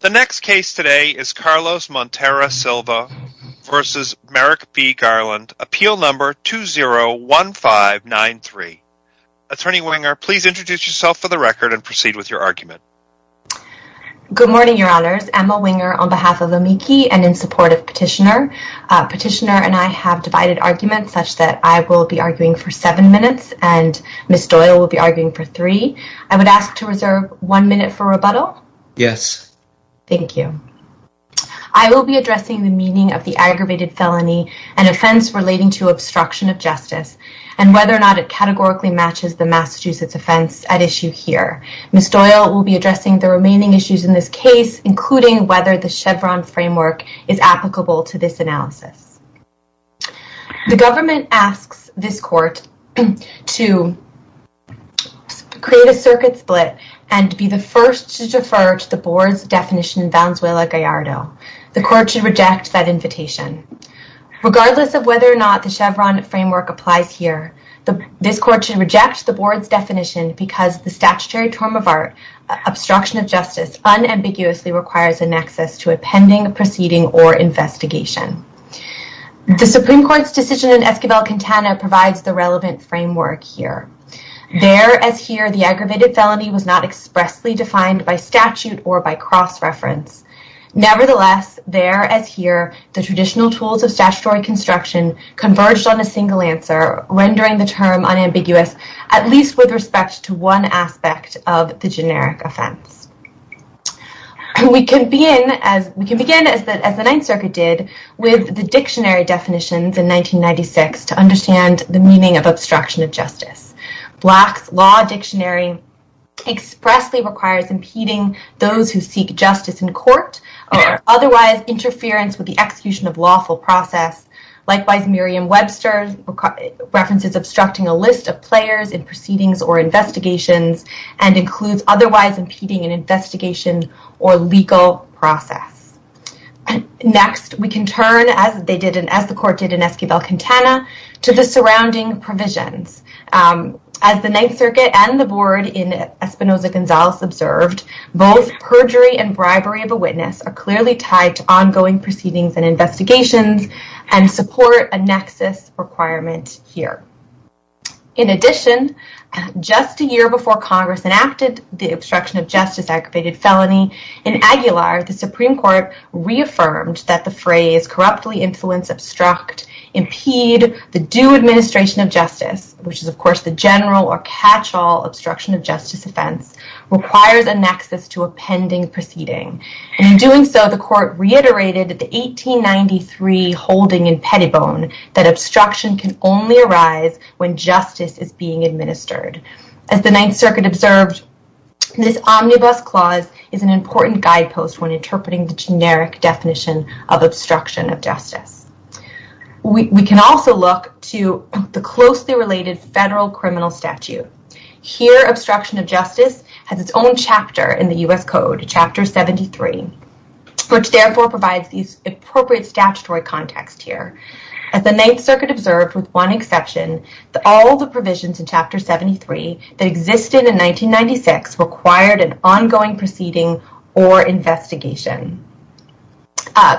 The next case today is Carlos Montero Silva v. Merrick B. Garland, Appeal No. 201593. Attorney Winger, please introduce yourself for the record and proceed with your argument. Good morning, Your Honors. Emma Winger on behalf of the Meeki and in support of Petitioner. Petitioner and I have divided arguments such that I will be arguing for seven minutes and Ms. Doyle will be arguing for three. Yes. Thank you. I will be addressing the meaning of the aggravated felony and offense relating to obstruction of justice and whether or not it categorically matches the Massachusetts offense at issue here. Ms. Doyle will be addressing the remaining issues in this case, including whether the Chevron framework is applicable to this analysis. The government asks this court to create a circuit split and be the first to defer to the board's definition in Valenzuela-Gallardo. The court should reject that invitation. Regardless of whether or not the Chevron framework applies here, this court should reject the board's definition because the statutory term of art, obstruction of justice, unambiguously requires an access to a pending proceeding or investigation. The Supreme Court's decision in Esquivel-Quintana provides the relevant framework here. There as here, the aggravated felony was not expressly defined by statute or by cross-reference. Nevertheless, there as here, the traditional tools of statutory construction converged on a single answer, rendering the term unambiguous, at least with respect to one aspect of the generic offense. We can begin, as the Ninth Circuit did, with the dictionary definitions in 1996 to understand the meaning of obstruction of justice. Black's law dictionary expressly requires impeding those who seek justice in court or otherwise interference with the execution of lawful process. Likewise, Merriam-Webster's references obstructing a list of players in proceedings or investigations and includes otherwise impeding an investigation or legal process. Next, we can turn, as the court did in Esquivel-Quintana, to the surrounding provisions. As the Ninth Circuit and the board in Espinoza-Gonzalez observed, both perjury and bribery of a witness are clearly tied to ongoing proceedings and investigations and support a nexus requirement here. In addition, just a year before Congress enacted the obstruction of justice aggravated felony, in Aguilar, the Supreme Court reaffirmed that the phrase, corruptly influence, obstruct, impede, the due administration of justice, which is, of course, the general or catch-all obstruction of justice offense, requires a nexus to a pending proceeding. In doing so, the court reiterated at the 1893 holding in Pettibone that obstruction can only arise when justice is being administered. As the Ninth Circuit observed, this omnibus clause is an important guidepost when interpreting the generic definition of obstruction of justice. We can also look to the closely related federal criminal statute. Here, obstruction of justice has its own chapter in the U.S. Code, Chapter 73, which therefore provides the appropriate statutory context here. As the Ninth Circuit observed, with one exception, all the provisions in Chapter 73 that existed in 1996 required an ongoing proceeding or investigation.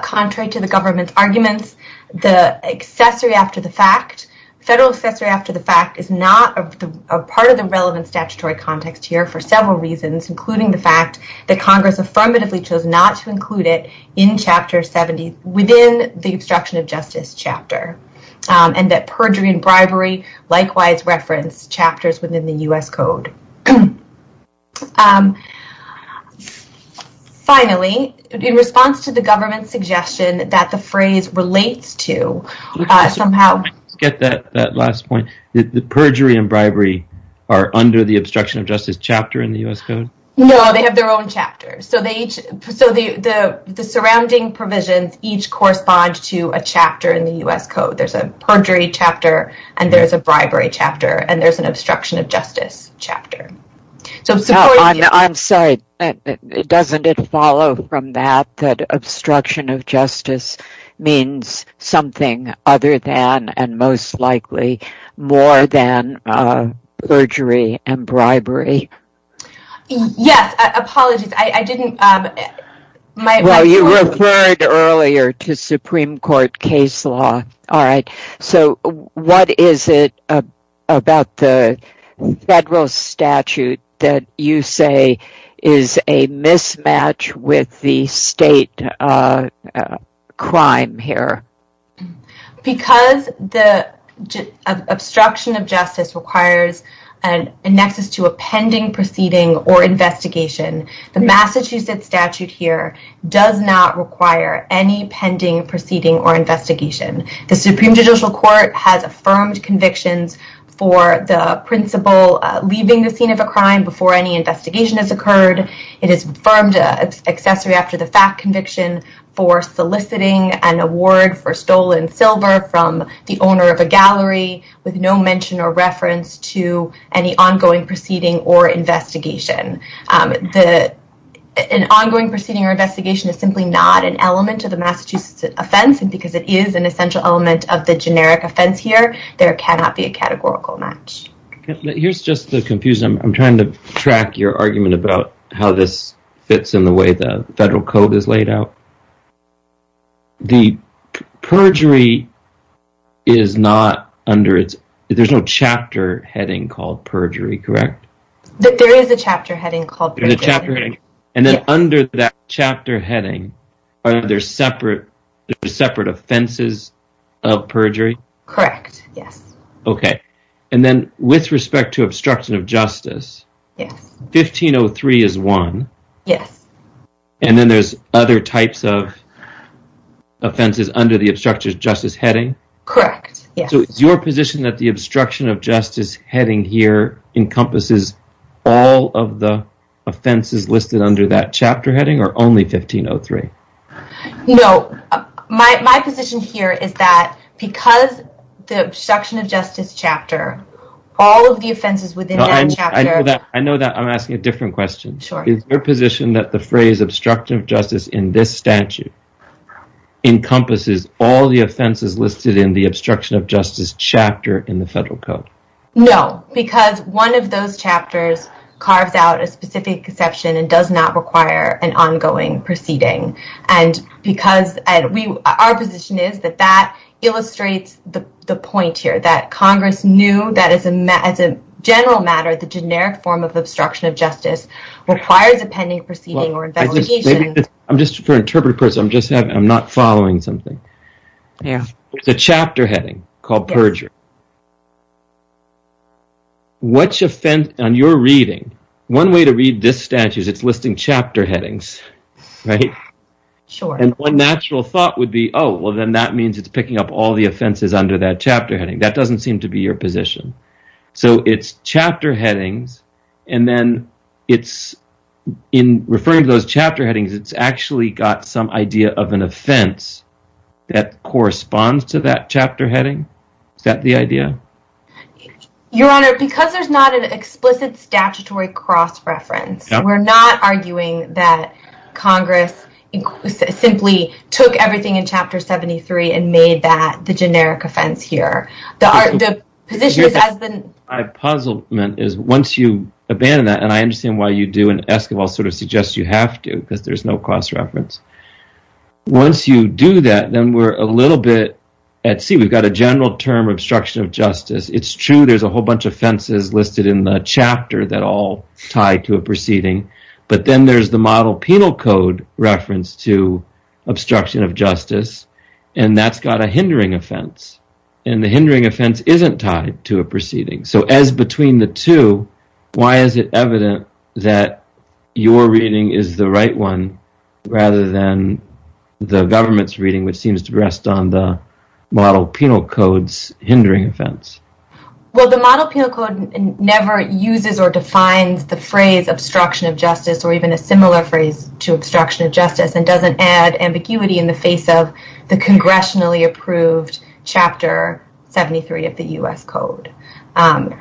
Contrary to the government's arguments, the accessory after the fact, federal accessory after the fact, is not a part of the relevant statutory context here for several reasons, including the fact that Congress affirmatively chose not to include it in Chapter 70, within the obstruction of justice chapter, and that perjury and bribery likewise reference chapters within the U.S. Code. Finally, in response to the government's suggestion that the phrase relates to somehow... No, they have their own chapters. So the surrounding provisions each correspond to a chapter in the U.S. Code. There's a perjury chapter, and there's a bribery chapter, and there's an obstruction of justice chapter. I'm sorry, doesn't it follow from that that obstruction of justice means something other than, and most likely more than, perjury and bribery? Yes, apologies, I didn't... Well, you referred earlier to Supreme Court case law. All right, so what is it about the federal statute that you say is a mismatch with the state crime here? Because the obstruction of justice requires a nexus to a pending proceeding or investigation, the Massachusetts statute here does not require any pending proceeding or investigation. The Supreme Judicial Court has affirmed convictions for the principal leaving the scene of a crime before any investigation has occurred. It has affirmed an accessory after the fact conviction for soliciting an award for stolen silver from the owner of a gallery with no mention or reference to any ongoing proceeding or investigation. An ongoing proceeding or investigation is simply not an element of the Massachusetts offense, and because it is an essential element of the generic offense here, there cannot be a categorical match. Here's just the confusion. I'm trying to track your argument about how this fits in the way the federal code is laid out. The perjury is not under its... there's no chapter heading called perjury, correct? There is a chapter heading called perjury. And then under that chapter heading, are there separate offenses of perjury? Correct, yes. Okay, and then with respect to obstruction of justice, 1503 is one. Yes. And then there's other types of offenses under the obstruction of justice heading? Correct, yes. So it's your position that the obstruction of justice heading here encompasses all of the offenses listed under that chapter heading or only 1503? No, my position here is that because the obstruction of justice chapter, all of the offenses within that chapter... I know that. I'm asking a different question. Sure. Is your position that the phrase obstructive justice in this statute encompasses all the offenses listed in the obstruction of justice chapter in the federal code? No, because one of those chapters carves out a specific exception and does not require an ongoing proceeding. And our position is that that illustrates the point here, that Congress knew that as a general matter, the generic form of obstruction of justice requires a pending proceeding or investigation. I'm just, for interpretive purposes, I'm not following something. Yeah. It's a chapter heading called perjury. On your reading, one way to read this statute is it's listing chapter headings, right? Sure. And one natural thought would be, oh, well, then that means it's picking up all the offenses under that chapter heading. That doesn't seem to be your position. So it's chapter headings, and then in referring to those chapter headings, it's actually got some idea of an offense that corresponds to that chapter heading? Is that the idea? Your Honor, because there's not an explicit statutory cross-reference, we're not arguing that Congress simply took everything in Chapter 73 and made that the generic offense here. My puzzlement is once you abandon that, and I understand why you do, and Esquivel sort of suggests you have to because there's no cross-reference. Once you do that, then we're a little bit at sea. We've got a general term, obstruction of justice. It's true there's a whole bunch of offenses listed in the chapter that all tie to a proceeding, but then there's the model penal code reference to obstruction of justice, and that's got a hindering offense. And the hindering offense isn't tied to a proceeding. So as between the two, why is it evident that your reading is the right one rather than the government's reading, which seems to rest on the model penal code's hindering offense? Well, the model penal code never uses or defines the phrase obstruction of justice and doesn't add ambiguity in the face of the congressionally-approved Chapter 73 of the U.S. Code. And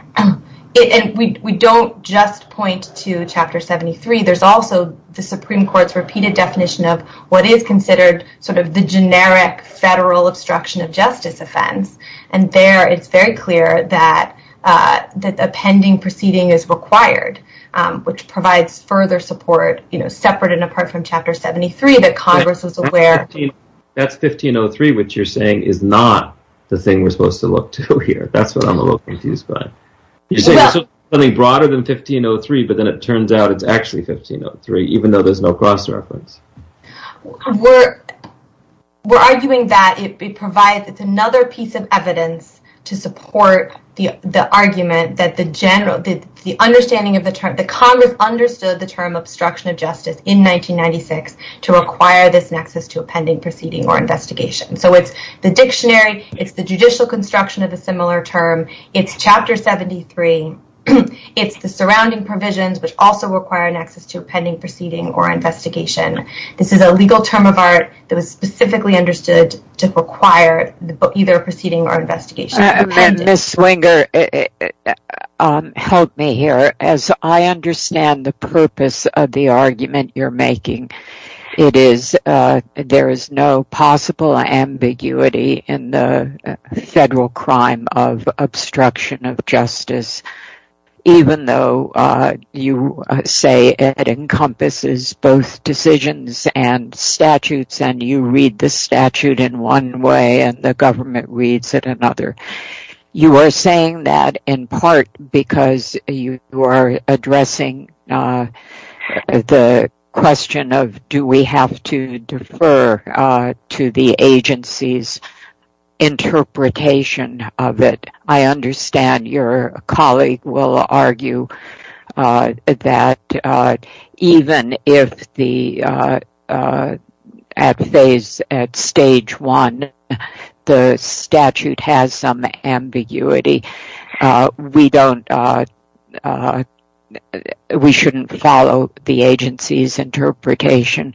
we don't just point to Chapter 73. There's also the Supreme Court's repeated definition of what is considered sort of the generic federal obstruction of justice offense, and there it's very clear that a pending proceeding is required, which provides further support separate and apart from Chapter 73 that Congress is aware of. That's 1503, which you're saying is not the thing we're supposed to look to here. That's what I'm a little confused by. You're saying there's something broader than 1503, but then it turns out it's actually 1503, even though there's no cross-reference. We're arguing that it provides another piece of evidence to support the argument that the Congress understood the term obstruction of justice in 1996 to require this nexus to a pending proceeding or investigation. So it's the dictionary. It's the judicial construction of a similar term. It's Chapter 73. It's the surrounding provisions, which also require a nexus to a pending proceeding or investigation. This is a legal term of art that was specifically understood to require either a proceeding or investigation. Ms. Swinger, help me here. As I understand the purpose of the argument you're making, there is no possible ambiguity in the federal crime of obstruction of justice, even though you say it encompasses both decisions and statutes, and you read the statute in one way and the government reads it another. You are saying that in part because you are addressing the question of do we have to defer to the agency's interpretation of it. I understand your colleague will argue that even if at stage one the statute has some ambiguity, we shouldn't follow the agency's interpretation.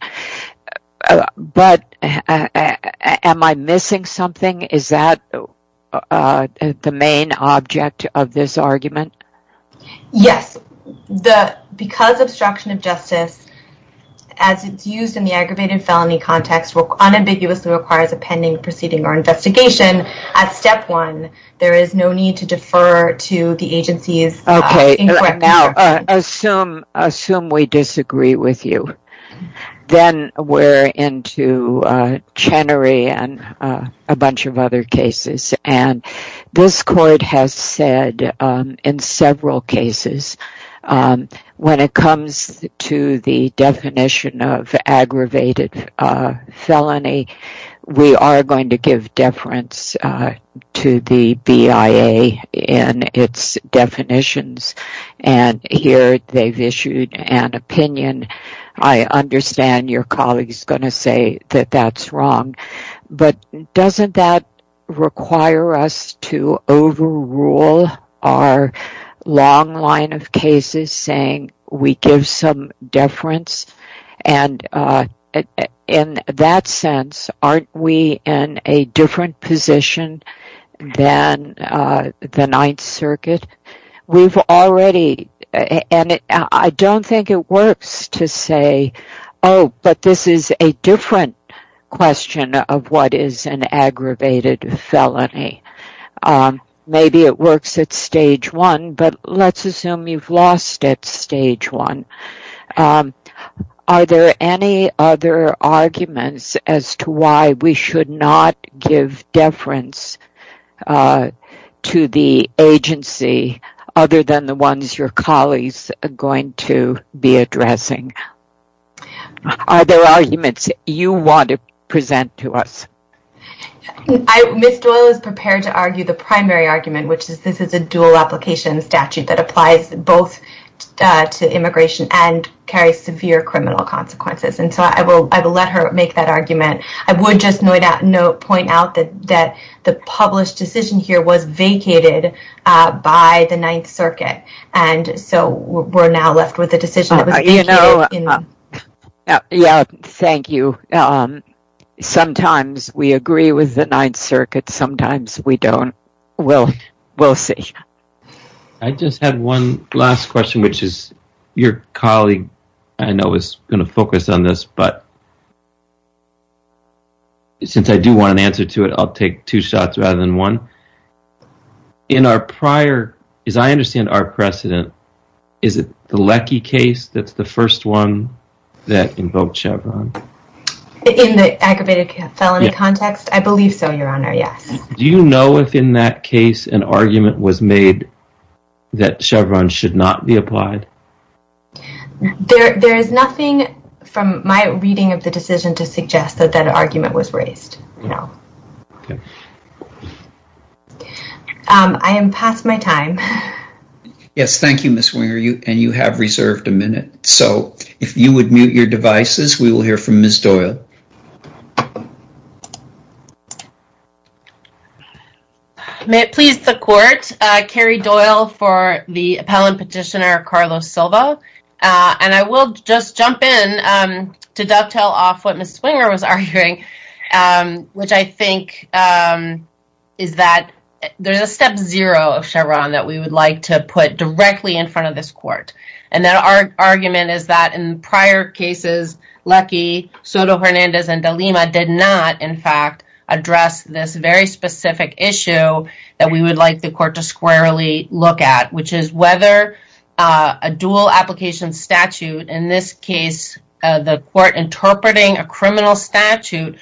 But am I missing something? Is that the main object of this argument? Yes. Because obstruction of justice, as it's used in the aggravated felony context, unambiguously requires a pending proceeding or investigation, at step one there is no need to defer to the agency's incorrect interpretation. Assume we disagree with you. Then we're into Chenery and a bunch of other cases. This court has said in several cases, when it comes to the definition of aggravated felony, we are going to give deference to the BIA in its definitions. Here they've issued an opinion. I understand your colleague is going to say that that's wrong. But doesn't that require us to overrule our long line of cases saying we give some deference? In that sense, aren't we in a different position than the Ninth Circuit? I don't think it works to say, oh, but this is a different question of what is an aggravated felony. Maybe it works at stage one, but let's assume you've lost at stage one. Are there any other arguments as to why we should not give deference to the agency other than the ones your colleagues are going to be addressing? Are there arguments you want to present to us? Ms. Doyle is prepared to argue the primary argument, which is this is a dual application statute that applies both to immigration and carries severe criminal consequences. I will let her make that argument. I would just point out that the published decision here was vacated by the Ninth Circuit. So we're now left with a decision that was vacated. Thank you. Sometimes we agree with the Ninth Circuit. Sometimes we don't. We'll see. I just have one last question, which is your colleague, I know, is going to focus on this, but since I do want an answer to it, I'll take two shots rather than one. In our prior, as I understand our precedent, is it the Leckie case that's the first one that invoked Chevron? In the aggravated felony context? I believe so, Your Honor, yes. Do you know if in that case an argument was made that Chevron should not be applied? There is nothing from my reading of the decision to suggest that that argument was raised, no. I am past my time. Yes, thank you, Ms. Winger, and you have reserved a minute. So if you would mute your devices, we will hear from Ms. Doyle. May it please the court, Carrie Doyle for the appellant petitioner, Carlos Silva, and I will just jump in to dovetail off what Ms. Winger was arguing, which I think is that there's a step zero of Chevron that we would like to put directly in front of this court, and that argument is that in prior cases, Leckie, Soto-Hernandez, and DeLima did not, in fact, address this very specific issue that we would like the court to squarely look at, which is whether a dual application statute, in this case the court interpreting a criminal statute,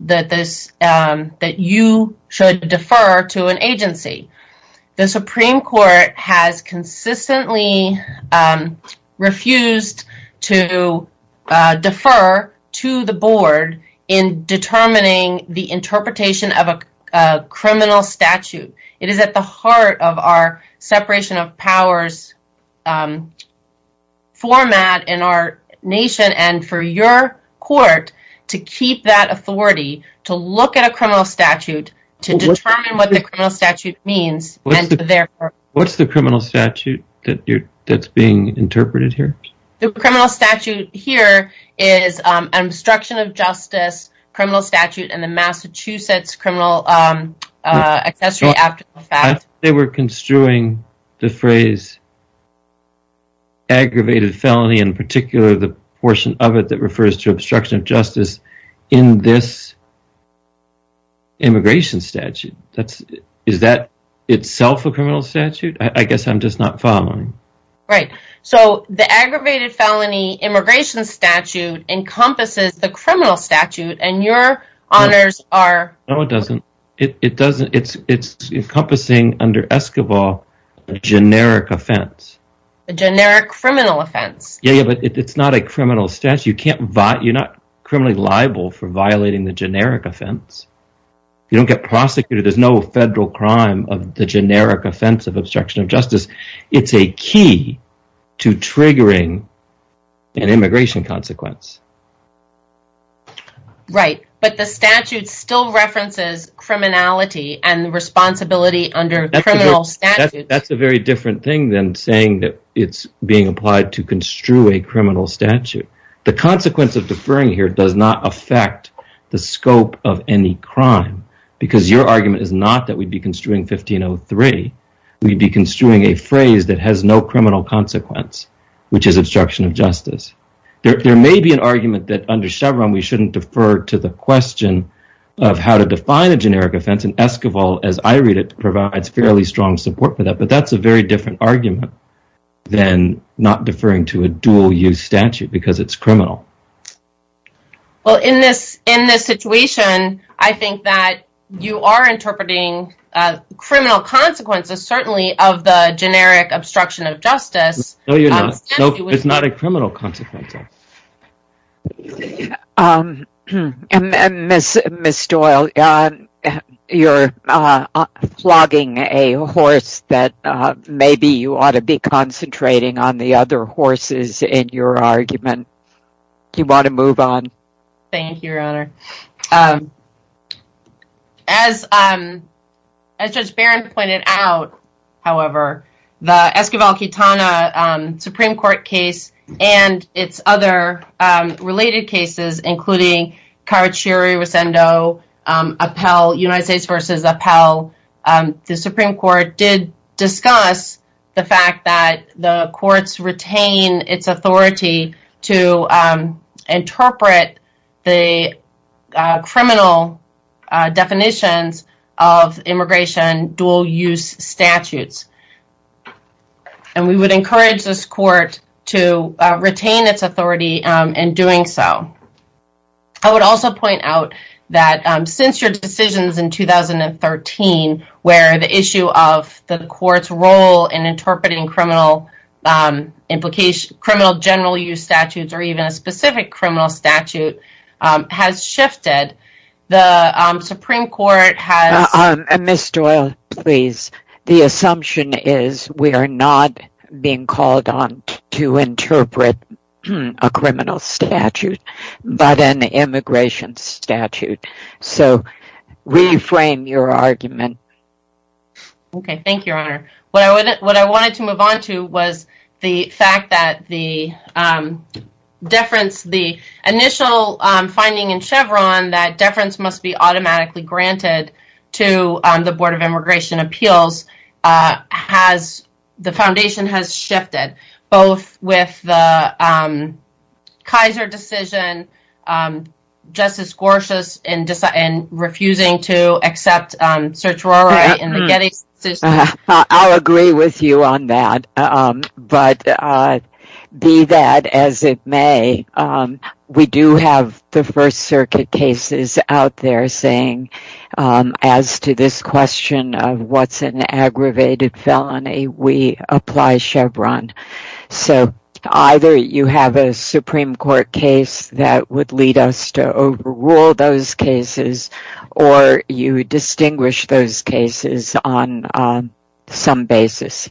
that you should defer to an agency. The Supreme Court has consistently refused to defer to the board in determining the interpretation of a criminal statute. It is at the heart of our separation of powers format in our nation, and for your court to keep that authority, to look at a criminal statute, to determine what the criminal statute means. What's the criminal statute that's being interpreted here? The criminal statute here is an obstruction of justice criminal statute in the Massachusetts criminal accessory act. They were construing the phrase aggravated felony, in particular the portion of it that refers to obstruction of justice in this immigration statute. Is that itself a criminal statute? I guess I'm just not following. Right. So the aggravated felony immigration statute encompasses the criminal statute, and your honors are... No, it doesn't. It's encompassing, under Escobar, a generic offense. A generic criminal offense. Yeah, but it's not a criminal statute. You're not criminally liable for violating the generic offense. You don't get prosecuted. There's no federal crime of the generic offense of obstruction of justice. It's a key to triggering an immigration consequence. Right, but the statute still references criminality and responsibility under criminal statute. That's a very different thing than saying that it's being applied to construe a criminal statute. The consequence of deferring here does not affect the scope of any crime, because your argument is not that we'd be construing 1503. We'd be construing a phrase that has no criminal consequence, which is obstruction of justice. There may be an argument that under Chevron we shouldn't defer to the question of how to define a generic offense, and Escobar, as I read it, provides fairly strong support for that, but that's a very different argument than not deferring to a dual-use statute, because it's criminal. Well, in this situation, I think that you are interpreting criminal consequences, certainly, of the generic obstruction of justice. No, you're not. It's not a criminal consequence. Ms. Doyle, you're flogging a horse that maybe you ought to be concentrating on the other horses in your argument. Do you want to move on? As Judge Barron pointed out, however, the Esquivel-Quitana Supreme Court case and its other related cases, including Carachiri-Ricendo, U.S. v. Appell, the Supreme Court did discuss the fact that the courts retain its authority to interpret the criminal definitions of immigration dual-use statutes, and we would encourage this court to retain its authority in doing so. I would also point out that since your decisions in 2013, where the issue of the court's role in interpreting criminal general-use statutes or even a specific criminal statute has shifted, the Supreme Court has... Ms. Doyle, please. The assumption is we are not being called on to interpret a criminal statute, but an immigration statute. So, reframe your argument. Okay. Thank you, Your Honor. What I wanted to move on to was the fact that the initial finding in Chevron that deference must be automatically granted to the Board of Immigration Appeals has...the foundation has shifted, both with the Kaiser decision, Justice Gorsuch's, and refusing to accept Sertruri in the Getty's decision. I'll agree with you on that, but be that as it may, we do have the First Circuit cases out there saying, as to this question of what's an aggravated felony, we apply Chevron. So, either you have a Supreme Court case that would lead us to overrule those cases, or you distinguish those cases on some basis.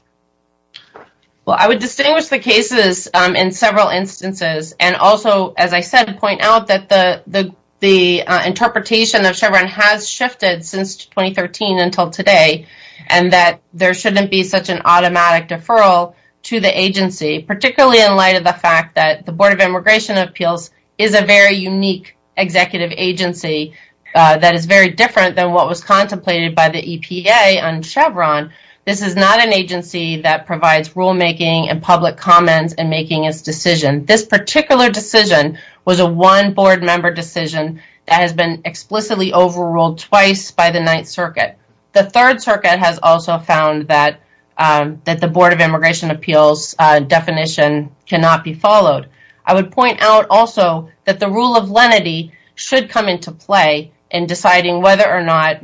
Well, I would distinguish the cases in several instances, and also, as I said, point out that the interpretation of Chevron has shifted since 2013 until today, and that there shouldn't be such an automatic deferral to the agency, particularly in light of the fact that the Board of Immigration Appeals is a very unique executive agency that is very different than what was contemplated by the EPA on Chevron. This is not an agency that provides rulemaking and public comments in making its decision. This particular decision was a one-Board member decision that has been explicitly overruled twice by the Ninth Circuit. The Third Circuit has also found that the Board of Immigration Appeals definition cannot be followed. I would point out also that the rule of lenity should come into play in deciding whether or not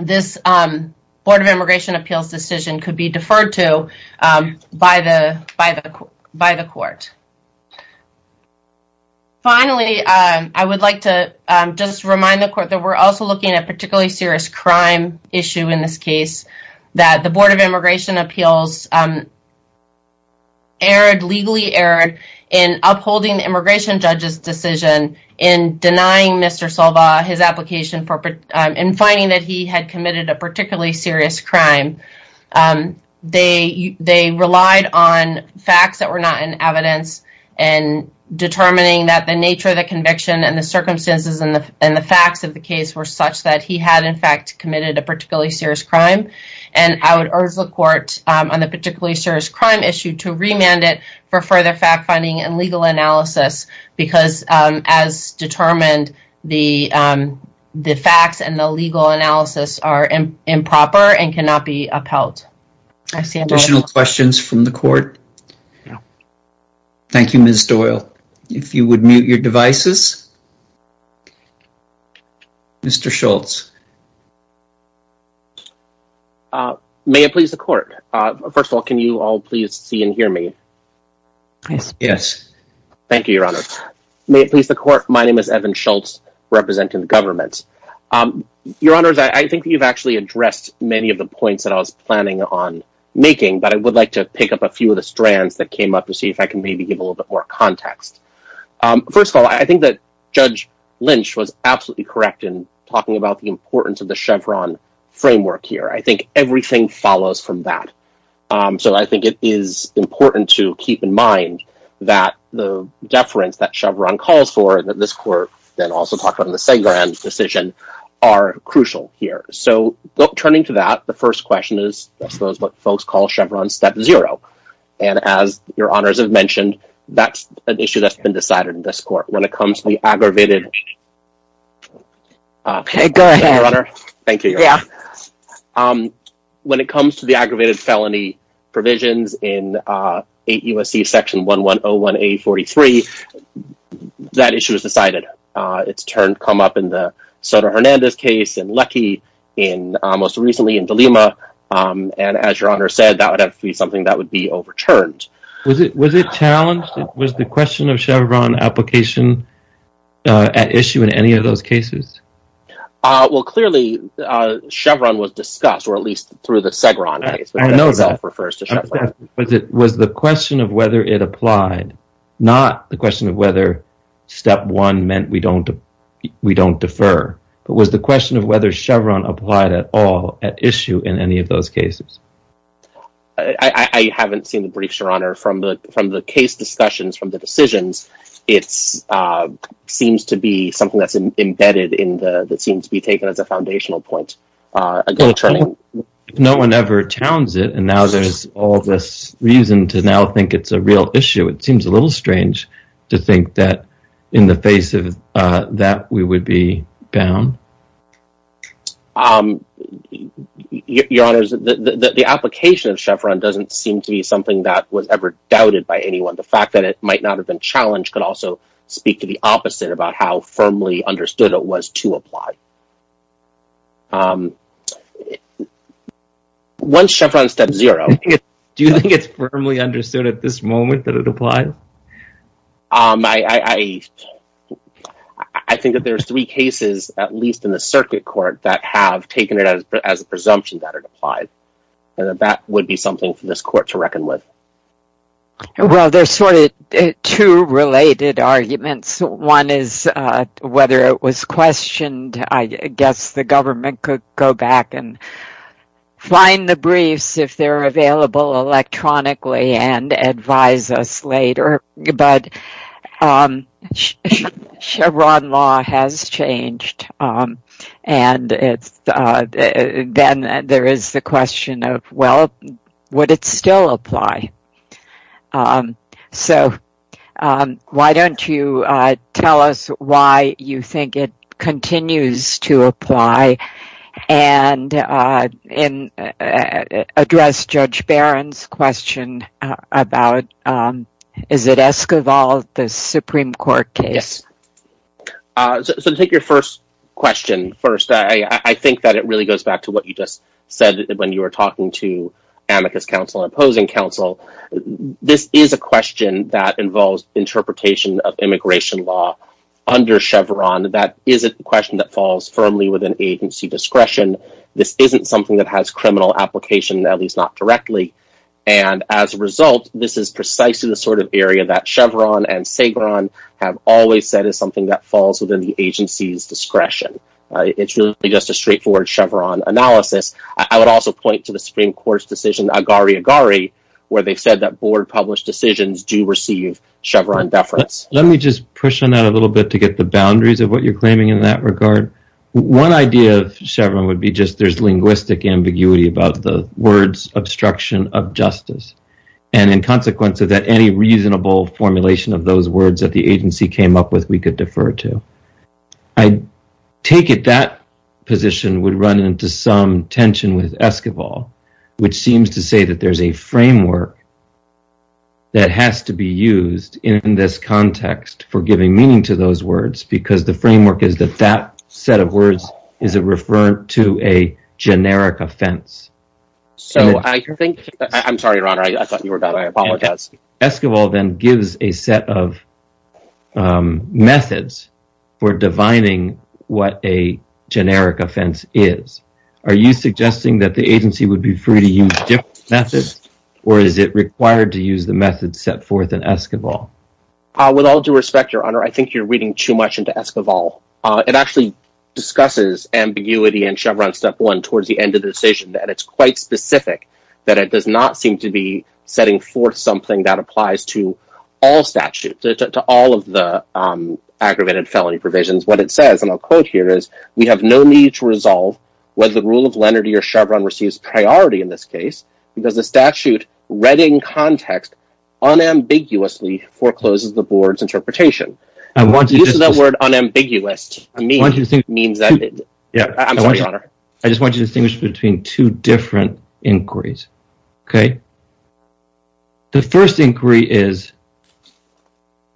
this Board of Immigration Appeals decision could be deferred to by the court. Finally, I would like to just remind the court that we're also looking at a particularly serious crime issue in this case, that the Board of Immigration Appeals erred, legally erred, in upholding the immigration judge's decision in denying Mr. Salva his application for, in finding that he had committed a particularly serious crime. They relied on facts that were not in evidence and determining that the nature of the conviction and the circumstances and the facts of the case were such that he had, in fact, committed a particularly serious crime. I would urge the court on the particularly serious crime issue to remand it for further fact-finding and legal analysis because, as determined, the facts and the legal analysis are improper and cannot be upheld. Additional questions from the court? Thank you, Ms. Doyle. If you would mute your devices. Mr. Schultz. May it please the court. First of all, can you all please see and hear me? Yes. Thank you, Your Honor. May it please the court, my name is Evan Schultz, representing the government. Your Honors, I think you've actually addressed many of the points that I was planning on making, but I would like to pick up a few of the strands that came up to see if I can maybe give a little bit more context. First of all, I think that Judge Lynch was absolutely correct in talking about the importance of the Chevron framework here. I think everything follows from that. So I think it is important to keep in mind that the deference that Chevron calls for, and that this court then also talked about in the Sengaran decision, are crucial here. So turning to that, the first question is what folks call Chevron step zero. And as Your Honors have mentioned, that's an issue that's been decided in this court. When it comes to the aggravated... Okay, go ahead. Thank you, Your Honor. When it comes to the aggravated felony provisions in 8 U.S.C. section 1101A43, that issue is decided. It's come up in the Sotomayor Hernandez case, in Luckey, and most recently in Dilema. And as Your Honor said, that would have to be something that would be overturned. Was it challenged? Was the question of Chevron application at issue in any of those cases? Well, clearly Chevron was discussed, or at least through the Sengaran case. I know that. That itself refers to Chevron. Was the question of whether it applied, not the question of whether step one meant we don't defer, but was the question of whether Chevron applied at all at issue in any of those cases? I haven't seen the briefs, Your Honor. From the case discussions, from the decisions, it seems to be something that's embedded, that seems to be taken as a foundational point. If no one ever towns it, and now there's all this reason to now think it's a real issue, it seems a little strange to think that in the face of that we would be bound. Your Honor, the application of Chevron doesn't seem to be something that was ever doubted by anyone. The fact that it might not have been challenged could also speak to the opposite about how firmly understood it was to apply. Once Chevron steps zero… Do you think it's firmly understood at this moment that it applied? I think that there's three cases, at least in the circuit court, that have taken it as a presumption that it applied. That would be something for this court to reckon with. Well, there's sort of two related arguments. One is whether it was questioned. I guess the government could go back and find the briefs if they're available electronically and advise us later, but Chevron law has changed. Then there is the question of, well, would it still apply? So why don't you tell us why you think it continues to apply and address Judge Barron's question about, is it Esquivel, the Supreme Court case? So to take your first question first, I think that it really goes back to what you just said when you were talking to amicus counsel and opposing counsel. This is a question that involves interpretation of immigration law under Chevron. That is a question that falls firmly within agency discretion. This isn't something that has criminal application, at least not directly. And as a result, this is precisely the sort of area that Chevron and Sagron have always said is something that falls within the agency's discretion. It's really just a straightforward Chevron analysis. I would also point to the Supreme Court's decision, Agari-Agari, where they said that board-published decisions do receive Chevron deference. Let me just push on that a little bit to get the boundaries of what you're claiming in that regard. One idea of Chevron would be just there's linguistic ambiguity about the words obstruction of justice, and in consequence of that, any reasonable formulation of those words that the agency came up with we could defer to. I take it that position would run into some tension with Esquivel, which seems to say that there's a framework that has to be used in this context for giving meaning to those words because the framework is that that set of words is a referent to a generic offense. I'm sorry, Your Honor. I thought you were done. I apologize. Esquivel then gives a set of methods for defining what a generic offense is. Are you suggesting that the agency would be free to use different methods, or is it required to use the methods set forth in Esquivel? With all due respect, Your Honor, I think you're reading too much into Esquivel. It actually discusses ambiguity in Chevron Step 1 towards the end of the decision, and it's quite specific that it does not seem to be setting forth something that applies to all statutes, to all of the aggravated felony provisions. What it says, and I'll quote here, is we have no need to resolve whether the rule of lenity or Chevron receives priority in this case because the statute read in context unambiguously forecloses the board's interpretation. The use of that word unambiguous means that—I'm sorry, Your Honor. I just want you to distinguish between two different inquiries. The first inquiry is,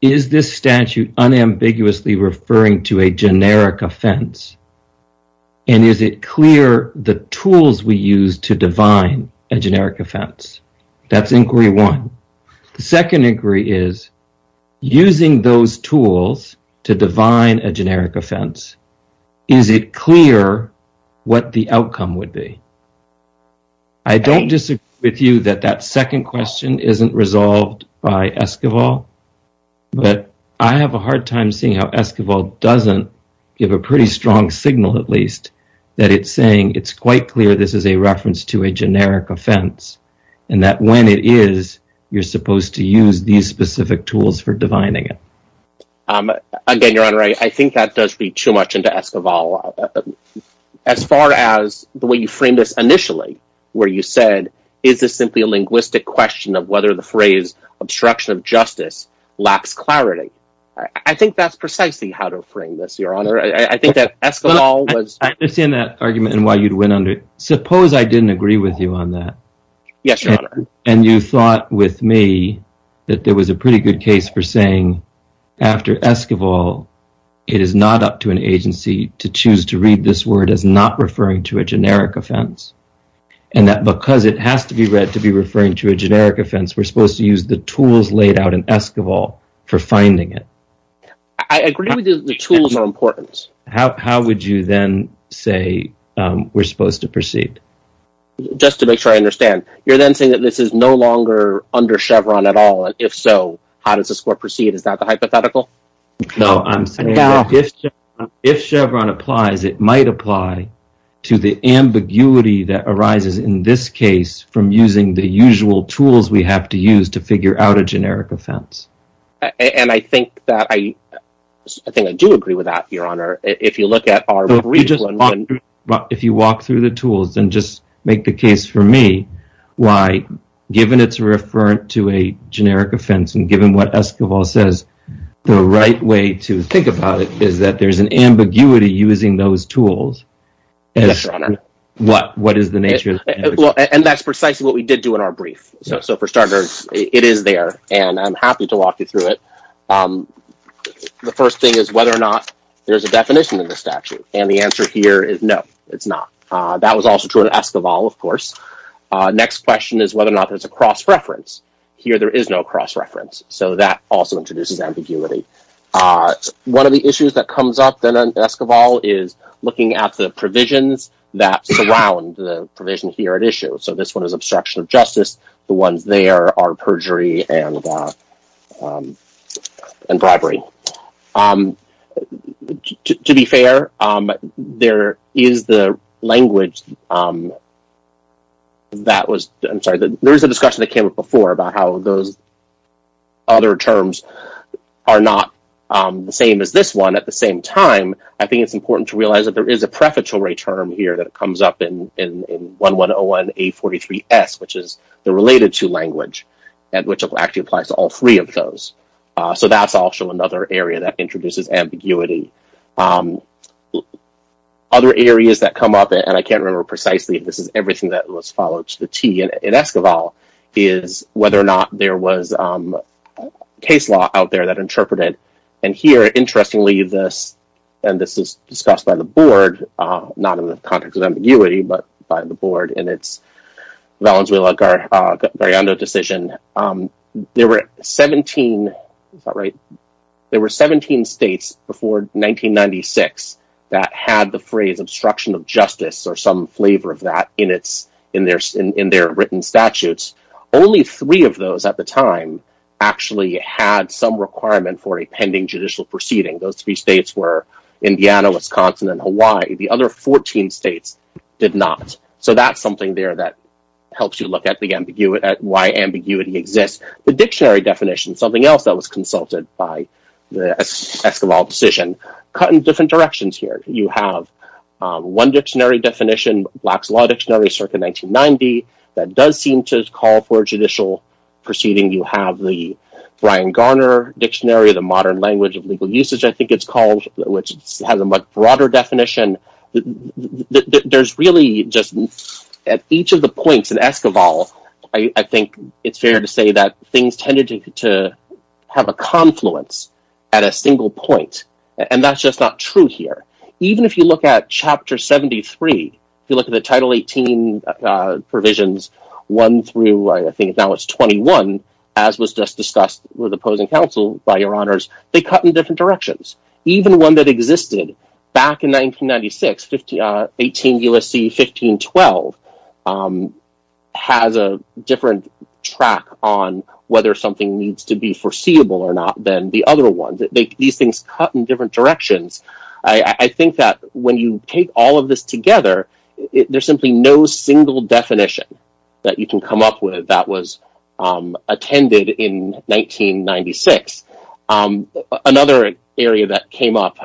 is this statute unambiguously referring to a generic offense, and is it clear the tools we use to define a generic offense? That's inquiry one. The second inquiry is, using those tools to define a generic offense, is it clear what the outcome would be? I don't disagree with you that that second question isn't resolved by Esquivel, but I have a hard time seeing how Esquivel doesn't give a pretty strong signal, at least, that it's saying it's quite clear this is a reference to a generic offense and that when it is, you're supposed to use these specific tools for defining it. Again, Your Honor, I think that does feed too much into Esquivel. As far as the way you framed this initially, where you said, is this simply a linguistic question of whether the phrase obstruction of justice lacks clarity? I think that's precisely how to frame this, Your Honor. I think that Esquivel was— I understand that argument and why you went under it. Suppose I didn't agree with you on that, and you thought with me that there was a pretty good case for saying, after Esquivel, it is not up to an agency to choose to read this word as not referring to a generic offense, and that because it has to be read to be referring to a generic offense, we're supposed to use the tools laid out in Esquivel for finding it. I agree with you that the tools are important. How would you then say we're supposed to proceed? Just to make sure I understand, you're then saying that this is no longer under Chevron at all, and if so, how does the score proceed? Is that the hypothetical? No, I'm saying that if Chevron applies, it might apply to the ambiguity that arises in this case from using the usual tools we have to use to figure out a generic offense. I think I do agree with that, Your Honor. If you walk through the tools and just make the case for me, why, given it's referring to a generic offense, and given what Esquivel says, the right way to think about it is that there's an ambiguity using those tools. Yes, Your Honor. What is the nature of the ambiguity? That's precisely what we did do in our brief. For starters, it is there, and I'm happy to walk you through it. The first thing is whether or not there's a definition in the statute, and the answer here is no, it's not. That was also true in Esquivel, of course. Next question is whether or not there's a cross-reference. Here there is no cross-reference, so that also introduces ambiguity. One of the issues that comes up in Esquivel is looking at the provisions that surround the provision here at issue. So this one is obstruction of justice. The ones there are perjury and bribery. To be fair, there is the language that was – I'm sorry, there is a discussion that came up before about how those other terms are not the same as this one. At the same time, I think it's important to realize that there is a prefatory term here that comes up in 1101A43S, which is the related to language, which actually applies to all three of those. So that's also another area that introduces ambiguity. Other areas that come up, and I can't remember precisely, this is everything that was followed to the T in Esquivel, is whether or not there was case law out there that interpreted. And here, interestingly, and this is discussed by the board, not in the context of ambiguity, but by the board, in its Valenzuela-Garando decision, there were 17 states before 1996 that had the phrase obstruction of justice or some flavor of that in their written statutes. Only three of those at the time actually had some requirement for a pending judicial proceeding. Those three states were Indiana, Wisconsin, and Hawaii. The other 14 states did not. So that's something there that helps you look at why ambiguity exists. The dictionary definition, something else that was consulted by the Esquivel decision, cut in different directions here. You have one dictionary definition, Black's Law Dictionary, circa 1990, that does seem to call for a judicial proceeding. You have the Brian Garner Dictionary, the Modern Language of Legal Usage, I think it's called, which has a much broader definition. There's really just, at each of the points in Esquivel, I think it's fair to say that things tended to have a confluence at a single point, and that's just not true here. Even if you look at Chapter 73, if you look at the Title 18 provisions, one through, I think now it's 21, as was just discussed with opposing counsel, by your honors, they cut in different directions. Even one that existed back in 1996, 18 U.S.C. 1512, has a different track on whether something needs to be foreseeable or not than the other ones. These things cut in different directions. I think that when you take all of this together, there's simply no single definition that you can come up with that was attended in 1996. Another area that came up,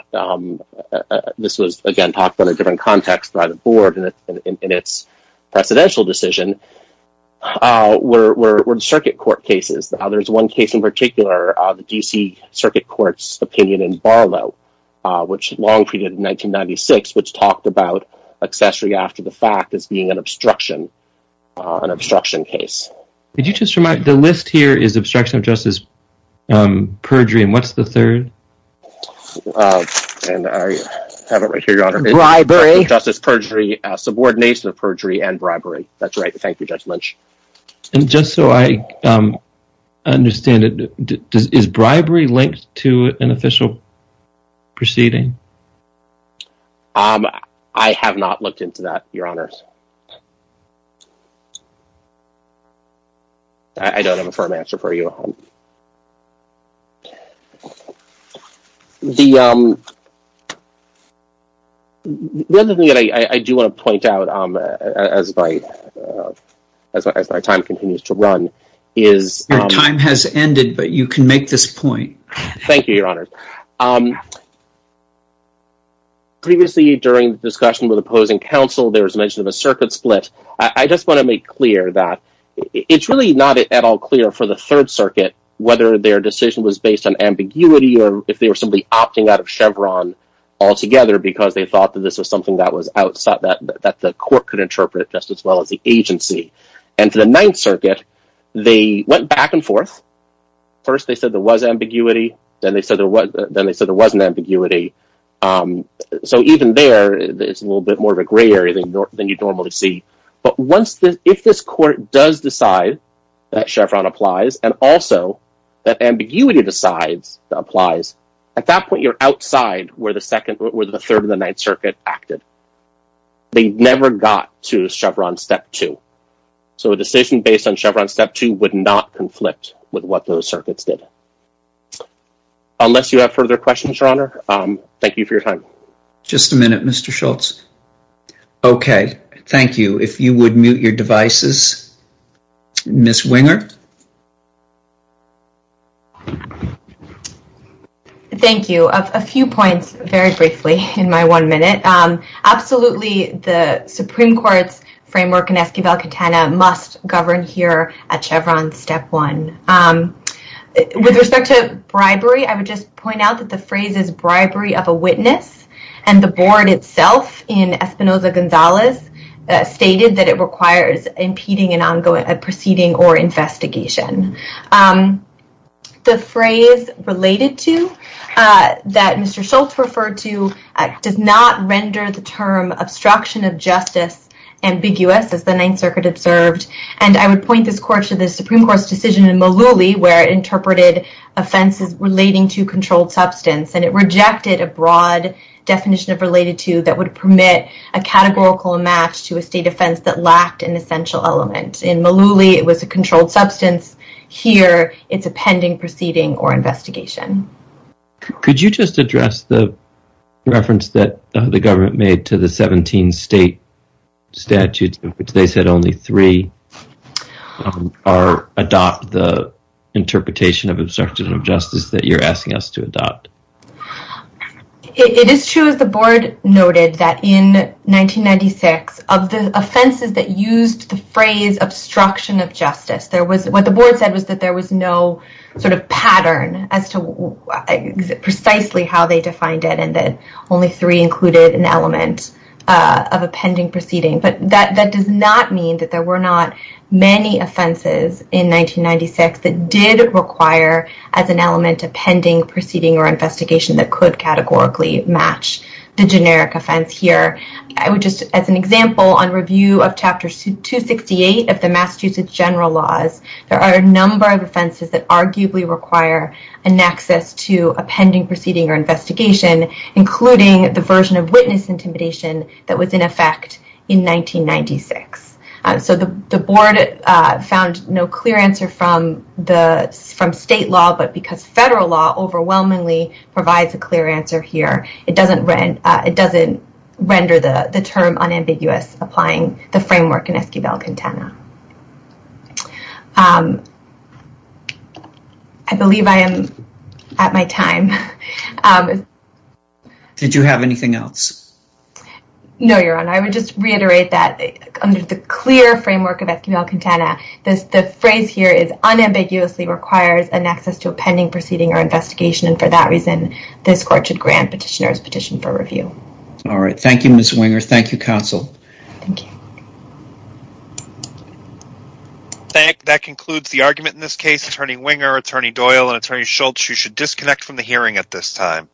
this was, again, talked about in a different context by the board in its presidential decision, were the circuit court cases. There's one case in particular, the D.C. Circuit Court's opinion in Barlow, which long preceded 1996, which talked about accessory after the fact as being an obstruction case. The list here is obstruction of justice perjury, and what's the third? I have it right here, your honor. Bribery. Justice perjury, subordination of perjury, and bribery. That's right. Thank you, Judge Lynch. Just so I understand it, is bribery linked to an official proceeding? I have not looked into that, your honors. I don't have a firm answer for you. The other thing that I do want to point out as my time continues to run is… Your time has ended, but you can make this point. Thank you, your honors. Previously, during the discussion with opposing counsel, there was mention of a circuit split. I just want to make clear that it's really not at all clear for the Third Circuit whether their decision was based on ambiguity or if they were simply opting out of Chevron altogether because they thought that this was something that the court could interpret just as well as the agency. And for the Ninth Circuit, they went back and forth. First, they said there was ambiguity. Then they said there wasn't ambiguity. So even there, it's a little bit more of a gray area than you'd normally see. But if this court does decide that Chevron applies and also that ambiguity applies, at that point, you're outside where the Third and the Ninth Circuit acted. They never got to Chevron Step 2. So a decision based on Chevron Step 2 would not conflict with what those circuits did. Unless you have further questions, your honor, thank you for your time. Just a minute, Mr. Schultz. Okay, thank you. If you would mute your devices. Ms. Winger. Thank you. A few points very briefly in my one minute. Absolutely, the Supreme Court's framework in Esquivel-Quintana must govern here at Chevron Step 1. With respect to bribery, I would just point out that the phrase is bribery of a witness, and the board itself in Espinoza-Gonzalez stated that it requires impeding an ongoing proceeding or investigation. The phrase related to that Mr. Schultz referred to does not render the term obstruction of justice ambiguous, as the Ninth Circuit observed. And I would point this court to the Supreme Court's decision in Mullooly where it interpreted offenses relating to controlled substance, and it rejected a broad definition of related to that would permit a categorical match to a state offense that lacked an essential element. In Mullooly, it was a controlled substance. Here, it's a pending proceeding or investigation. Could you just address the reference that the government made to the 17 state statutes which they said only three adopt the interpretation of obstruction of justice that you're asking us to adopt? It is true, as the board noted, that in 1996, of the offenses that used the phrase obstruction of justice, what the board said was that there was no sort of pattern as to precisely how they defined it, and that only three included an element of a pending proceeding. But that does not mean that there were not many offenses in 1996 that did require as an element a pending proceeding or investigation that could categorically match the generic offense here. I would just, as an example, on review of Chapter 268 of the Massachusetts General Laws, there are a number of offenses that arguably require an access to a pending proceeding or investigation, including the version of witness intimidation that was in effect in 1996. So the board found no clear answer from state law, but because federal law overwhelmingly provides a clear answer here, it doesn't render the term unambiguous applying the framework in Esquivel-Quintana. I believe I am at my time. Did you have anything else? No, Your Honor. I would just reiterate that under the clear framework of Esquivel-Quintana, the phrase here is unambiguously requires an access to a pending proceeding or investigation, and for that reason, this court should grant petitioners' petition for review. All right. Thank you, Ms. Winger. Thank you, counsel. Thank you. That concludes the argument in this case. Attorney Winger, Attorney Doyle, and Attorney Schultz, you should disconnect from the hearing at this time.